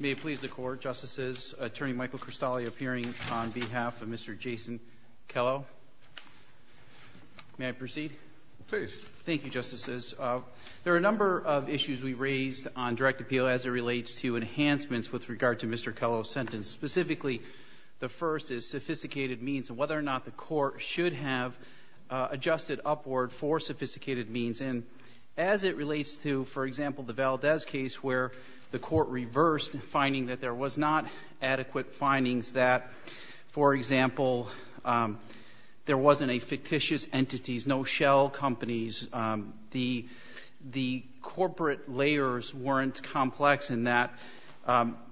May it please the Court, Justices, Attorney Michael Cristale appearing on behalf of Mr. Jason Kellow. May I proceed? Please. Thank you, Justices. There are a number of issues we raised on direct appeal as it relates to enhancements with regard to Mr. Kellow's sentence. Specifically, the first is sophisticated means and whether or not the Court should have adjusted upward for sophisticated means. And as it relates to, for example, the Valdez case where the Court reversed finding that there was not adequate findings that, for example, there wasn't a fictitious entities, no shell companies, the corporate layers weren't complex in that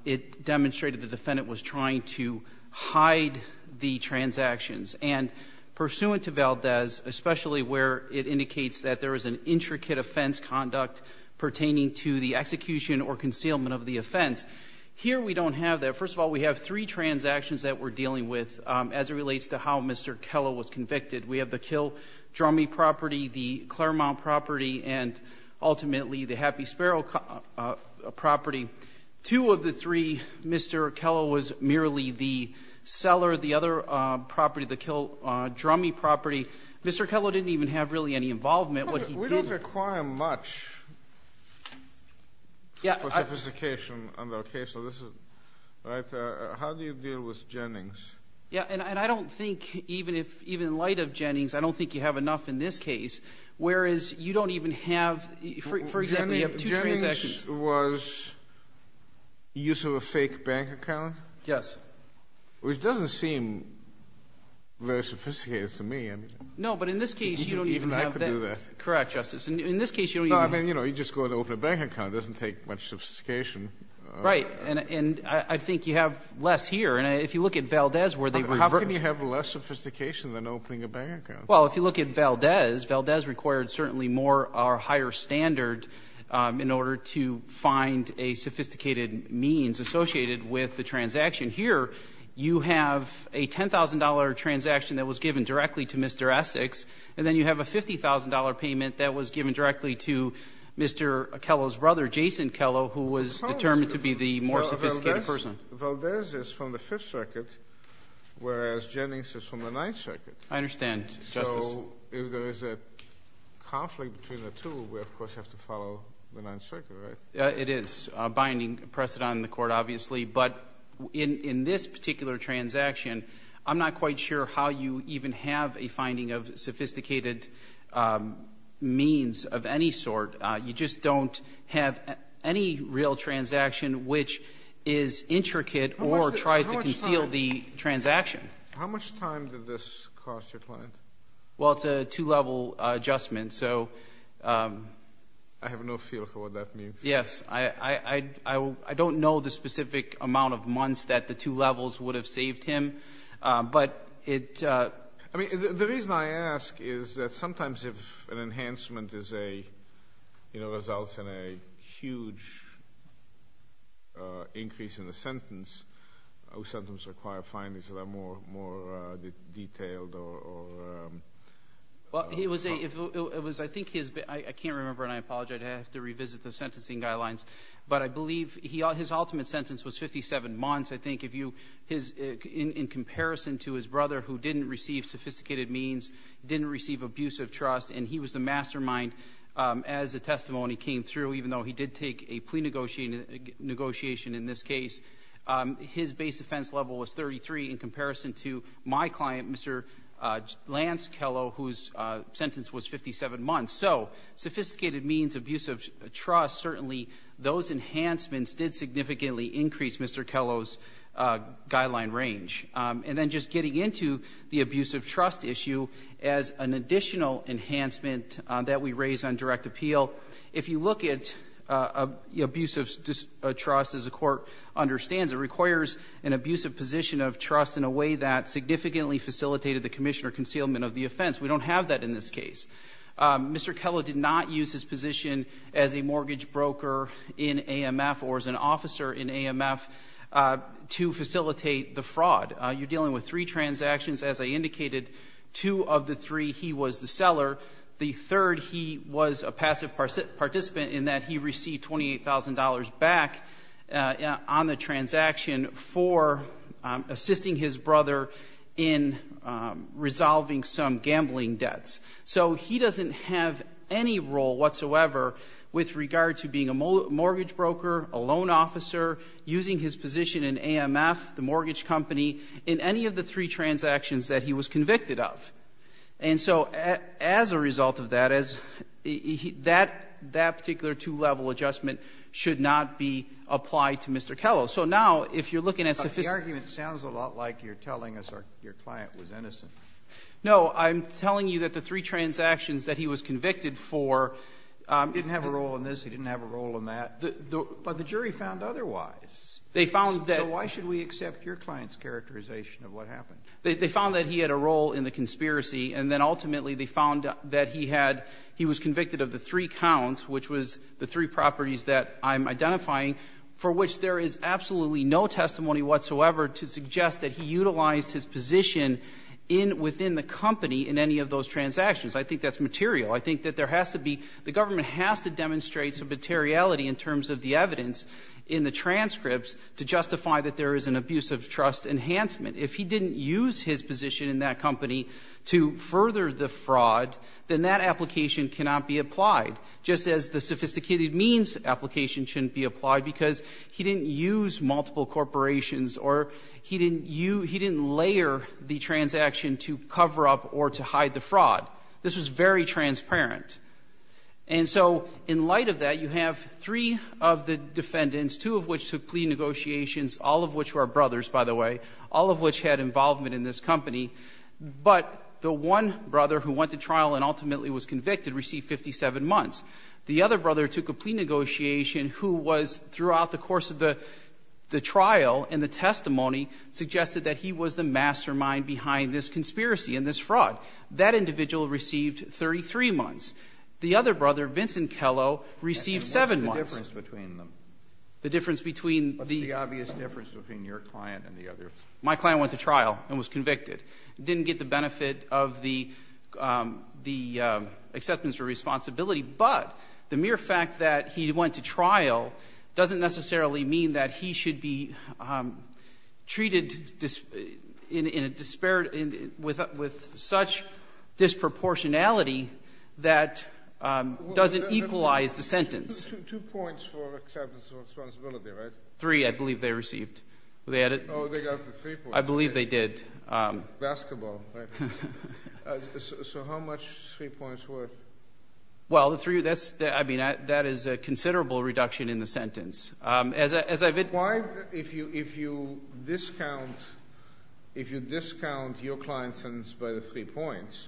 it demonstrated the defendant was trying to hide the transactions. And pursuant to Valdez, especially where it indicates that there is an intricate offense conduct pertaining to the execution or concealment of the offense, here we don't have that. First of all, we have three transactions that we're dealing with as it relates to how Mr. Kellow was convicted. We have the Kill Drummy property, the Claremont property, and ultimately the Happy Sparrow property. Two of the three, Mr. Kellow was merely the seller. The other property, the Kill Drummy property, Mr. Kellow didn't even have really any involvement. What he did was he did it. Kennedy. We don't require much for sophistication under our case. So this is, right? How do you deal with Jennings? Yeah. And I don't think even if, even in light of Jennings, I don't think you have enough in this case, whereas you don't even have, for example, you have two transactions. Jennings was use of a fake bank account? Yes. Which doesn't seem very sophisticated to me. No, but in this case, you don't even have that. Even I could do that. Correct, Justice. In this case, you don't even have that. No, I mean, you know, you just go and open a bank account. It doesn't take much sophistication. Right. And I think you have less here. And if you look at Valdez, where they reversed. How can you have less sophistication than opening a bank account? Well, if you look at Valdez, Valdez required certainly more or higher standard in order to find a sophisticated means associated with the transaction. Here, you have a $10,000 transaction that was given directly to Mr. Essex, and then you have a $50,000 payment that was given directly to Mr. Kello's brother, Jason Kello, who was determined to be the more sophisticated person. Valdez is from the Fifth Circuit, whereas Jennings is from the Ninth Circuit. I understand, Justice. So if there is a conflict between the two, we, of course, have to follow the Ninth Circuit, right? It is binding precedent in the Court, obviously. But in this particular transaction, I'm not quite sure how you even have a finding of sophisticated means of any sort. You just don't have any real transaction which is intricate or tries to conceal the transaction. How much time did this cost your client? Well, it's a two-level adjustment. I have no feel for what that means. Yes. I don't know the specific amount of months that the two levels would have saved him. The reason I ask is that sometimes if an enhancement results in a huge increase in the sentence, those sentences require findings that are more detailed or — Well, he was a — it was, I think, his — I can't remember, and I apologize. I'd have to revisit the sentencing guidelines. But I believe his ultimate sentence was 57 months, I think, if you — in comparison to his brother, who didn't receive sophisticated means, didn't receive abusive trust, and he was the mastermind as the testimony came through, even though he did take a plea negotiation in this case, his base offense level was 33 in comparison to my client, Mr. Lance Kello, whose sentence was 57 months. So sophisticated means, abusive trust, certainly those enhancements did significantly increase Mr. Kello's guideline range. And then just getting into the abusive trust issue as an additional enhancement that we raise on direct appeal, if you look at abusive trust, as the Court understands, it requires an abusive position of trust in a way that significantly facilitated the commission or concealment of the offense. We don't have that in this case. Mr. Kello did not use his position as a mortgage broker in AMF or as an officer in AMF to facilitate the fraud. You're dealing with three transactions. As I indicated, two of the three, he was the seller. The third, he was a passive participant in that he received $28,000 back on the transaction for assisting his brother in resolving some gambling debts. So he doesn't have any role whatsoever with regard to being a mortgage broker, a loan officer, using his position in AMF, the mortgage company, in any of the three transactions that he was convicted of. And so as a result of that, that particular two-level adjustment should not be applied to Mr. Kello. So now, if you're looking at sufficient ---- Kennedy, but the argument sounds a lot like you're telling us your client was innocent. No. I'm telling you that the three transactions that he was convicted for ---- He didn't have a role in this. He didn't have a role in that. But the jury found otherwise. They found that ---- So why should we accept your client's characterization of what happened? They found that he had a role in the conspiracy. And then ultimately, they found that he had ---- he was convicted of the three counts, which was the three properties that I'm identifying, for which there is absolutely no testimony whatsoever to suggest that he utilized his position in ---- within the company in any of those transactions. I think that's material. I think that there has to be ---- the government has to demonstrate some materiality in terms of the evidence in the transcripts to justify that there is an abuse-of-trust enhancement. If he didn't use his position in that company to further the fraud, then that application cannot be applied, just as the sophisticated means application shouldn't be applied, because he didn't use multiple corporations or he didn't use ---- he didn't layer the transaction to cover up or to hide the fraud. This was very transparent. And so in light of that, you have three of the defendants, two of which took plea negotiations, all of which were brothers, by the way, all of which had involvement in this company, but the one brother who went to trial and ultimately was convicted received 57 months. The other brother took a plea negotiation who was, throughout the course of the trial and the testimony, suggested that he was the mastermind behind this conspiracy and this fraud. That individual received 33 months. The other brother, Vincent Kello, received 7 months. And what's the difference between them? The difference between the ---- What's the obvious difference between your client and the others? My client went to trial and was convicted, didn't get the benefit of the acceptance or responsibility, but the mere fact that he went to trial doesn't necessarily mean that he should be treated in a disparate ---- with such disproportionality that doesn't equalize the sentence. Two points for acceptance or responsibility, right? Three, I believe they received. Oh, they got the three points. I believe they did. Basketball, right? So how much are three points worth? Well, the three ---- that's the ---- I mean, that is a considerable reduction in the sentence. As I ---- Why, if you discount your client's sentence by the three points,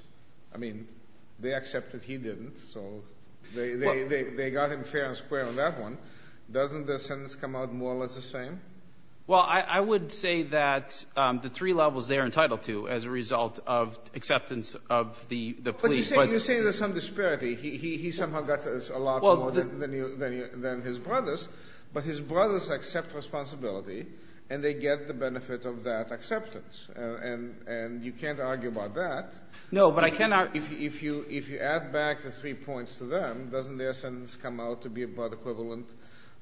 I mean, they accepted he didn't, so they got him fair and square on that one, doesn't the sentence come out more or less the same? Well, I would say that the three levels they are entitled to as a result of acceptance of the plea. But you say there's some disparity. He somehow got a lot more than his brothers, but his brothers accept responsibility and they get the benefit of that acceptance. And you can't argue about that. No, but I cannot. If you add back the three points to them, doesn't their sentence come out to be about equivalent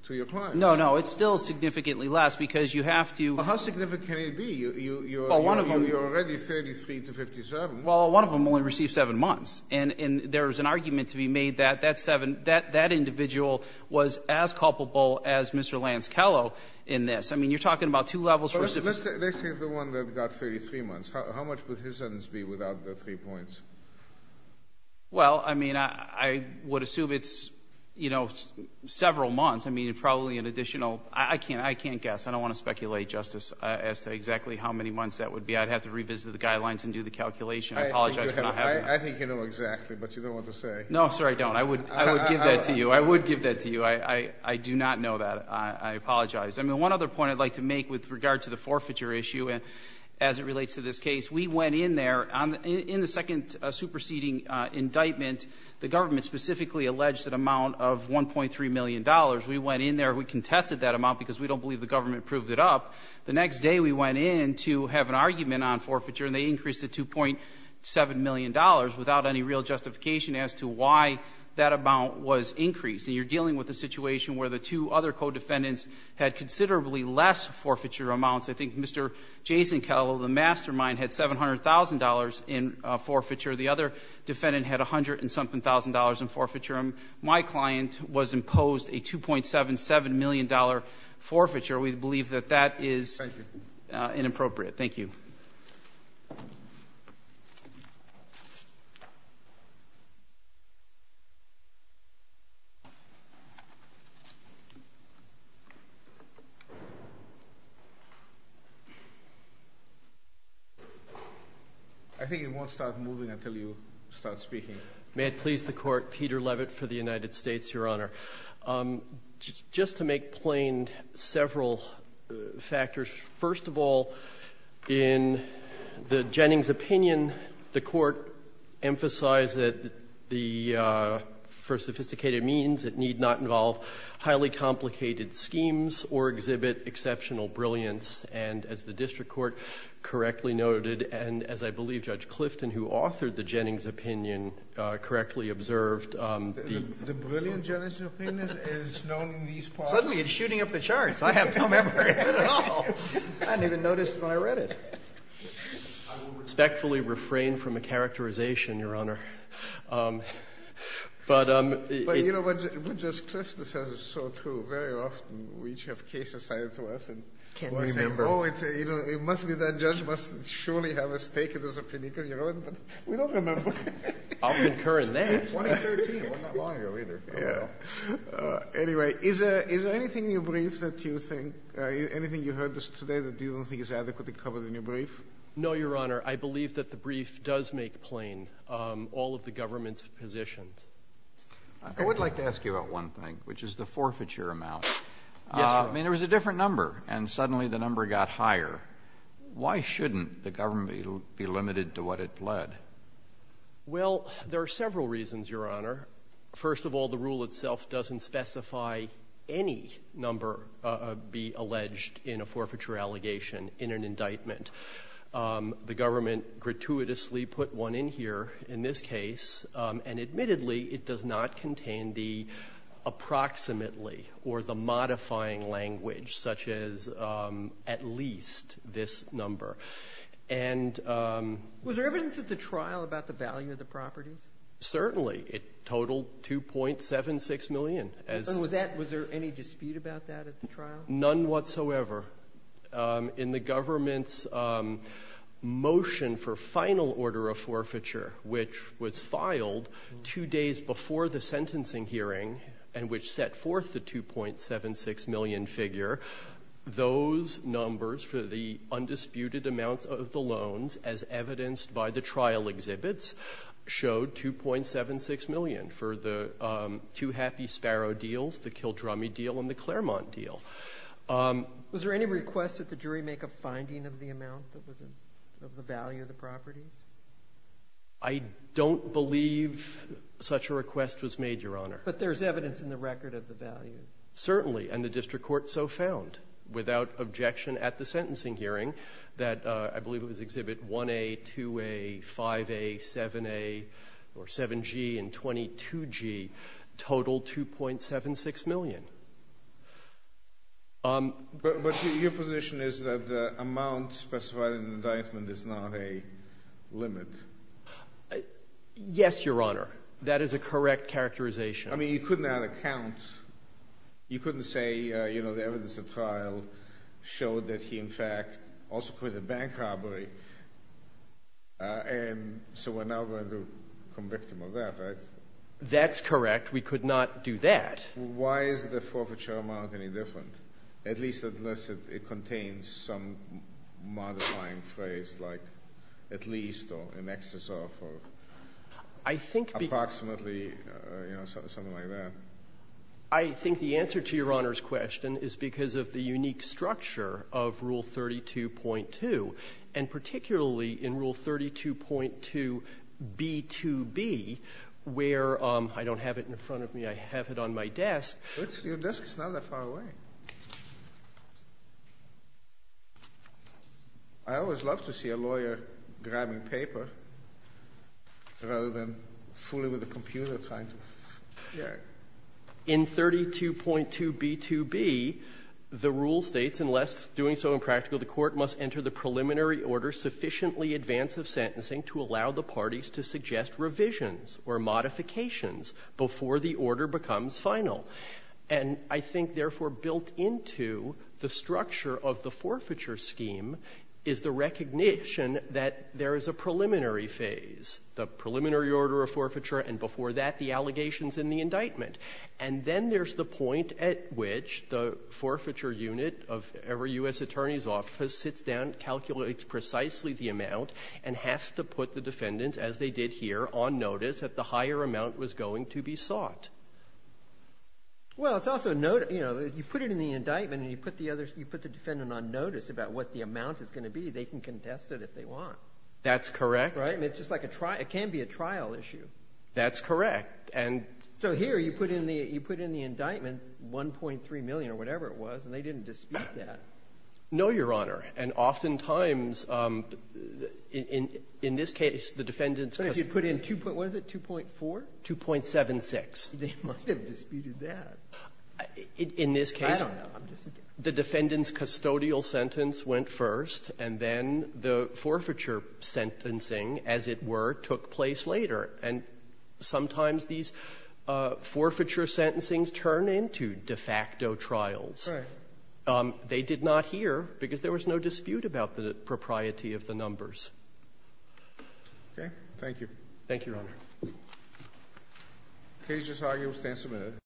to your client's? No, no. It's still significantly less because you have to ---- Well, how significant can it be? You're already 33 to 57. Well, one of them only received seven months. And there's an argument to be made that that seven ---- that that individual was as culpable as Mr. Lance Kello in this. I mean, you're talking about two levels. Let's take the one that got 33 months. How much would his sentence be without the three points? Well, I mean, I would assume it's, you know, several months. I mean, probably an additional ---- I can't guess. I don't want to speculate, Justice, as to exactly how many months that would be. I'd have to revisit the guidelines and do the calculation. I apologize for not having that. I think you know exactly, but you don't want to say. No, sir, I don't. I would give that to you. I would give that to you. I do not know that. I apologize. I mean, one other point I'd like to make with regard to the forfeiture issue as it relates to this case. We went in there. In the second superseding indictment, the government specifically alleged an amount of $1.3 million. We went in there. We contested that amount because we don't believe the government proved it up. The next day we went in to have an argument on forfeiture, and they increased it to $2.7 million without any real justification as to why that amount was increased. And you're dealing with a situation where the two other co-defendants had considerably less forfeiture amounts. I think Mr. Jason Kellow, the mastermind, had $700,000 in forfeiture. The other defendant had a hundred and something thousand dollars in forfeiture. My client was imposed a $2.77 million forfeiture. We believe that that is inappropriate. Thank you. I think it won't start moving until you start speaking. May it please the Court. Peter Levitt for the United States, Your Honor. Just to make plain several factors. First of all, in the Jennings opinion, the Court emphasized that the for sophisticated means, it need not involve highly complicated schemes or exhibit exceptional brilliance. And as the district court correctly noted, and as I believe Judge Clifton, who authored the Jennings opinion, correctly observed, the brilliant Jennings opinion is known in these parts. Suddenly it's shooting up the charts. I have no memory of it at all. I didn't even notice when I read it. I will respectfully refrain from a characterization, Your Honor. But it But, you know, Judge Clifton says it's so true. Very often we each have cases cited to us. Can't remember. Oh, it must be that judge must surely have a stake in this opinion. We don't remember. I'll concur in that. 2013. It wasn't that long ago either. Anyway, is there anything in your brief that you think, anything you heard today that you don't think is adequately covered in your brief? No, Your Honor. I believe that the brief does make plain all of the government's positions. I would like to ask you about one thing, which is the forfeiture amount. Yes, Your Honor. I mean, there was a different number, and suddenly the number got higher. Why shouldn't the government be limited to what it pled? Well, there are several reasons, Your Honor. First of all, the rule itself doesn't specify any number be alleged in a forfeiture allegation in an indictment. The government gratuitously put one in here in this case, and admittedly, it does not contain the approximately or the modifying language, such as at least this number. And ---- Was there evidence at the trial about the value of the properties? Certainly. It totaled $2.76 million. And was that ñ was there any dispute about that at the trial? None whatsoever. In the government's motion for final order of forfeiture, which was filed two days before the sentencing hearing, and which set forth the $2.76 million figure, those numbers for the undisputed amounts of the loans, as evidenced by the trial exhibits, showed $2.76 million for the two Happy Sparrow deals, the Kildrummy deal and the Claremont deal. Was there any request that the jury make a finding of the amount that was in ñ of the value of the properties? I don't believe such a request was made, Your Honor. But there's evidence in the record of the value. Certainly. And the district court so found, without objection at the sentencing hearing, that I believe it was Exhibit 1A, 2A, 5A, 7A, or 7G and 22G, totaled $2.76 million. But your position is that the amount specified in the indictment is not a limit. Yes, Your Honor. That is a correct characterization. I mean, you could not account. You couldn't say, you know, the evidence at trial showed that he, in fact, also committed bank robbery. And so we're now going to convict him of that, right? That's correct. We could not do that. Why is the forfeiture amount any different, at least unless it contains some modifying phrase like at least or in excess of or approximately, you know, something like that? I think the answer to Your Honor's question is because of the unique structure of Rule 32.2, and particularly in Rule 32.2b2b, where I don't have it in front of me. I have it on my desk. Your desk is not that far away. I always love to see a lawyer grabbing paper rather than fooling with a computer trying to figure it. In 32.2b2b, the rule states, unless doing so impractical, the court must enter the preliminary order sufficiently advance of sentencing to allow the parties to suggest revisions or modifications before the order becomes final. And I think, therefore, built into the structure of the forfeiture scheme is the recognition that there is a preliminary phase, the preliminary order of forfeiture, and before that the allegations in the indictment. And then there's the point at which the forfeiture unit of every U.S. attorney's and has to put the defendant, as they did here, on notice that the higher amount was going to be sought. Well, it's also a note, you know, you put it in the indictment and you put the other you put the defendant on notice about what the amount is going to be, they can contest it if they want. That's correct. Right? I mean, it's just like a trial – it can be a trial issue. That's correct. And so here you put in the you put in the indictment 1.3 million or whatever it was, and they didn't dispute that. No, Your Honor. And oftentimes, in this case, the defendant's – But if you put in 2.4? 2.76. They might have disputed that. In this case, the defendant's custodial sentence went first, and then the forfeiture sentencing, as it were, took place later. And sometimes these forfeiture sentencings turn into de facto trials. Right. They did not hear, because there was no dispute about the propriety of the numbers. Okay. Thank you. Thank you, Your Honor. The case is argued and stands submitted.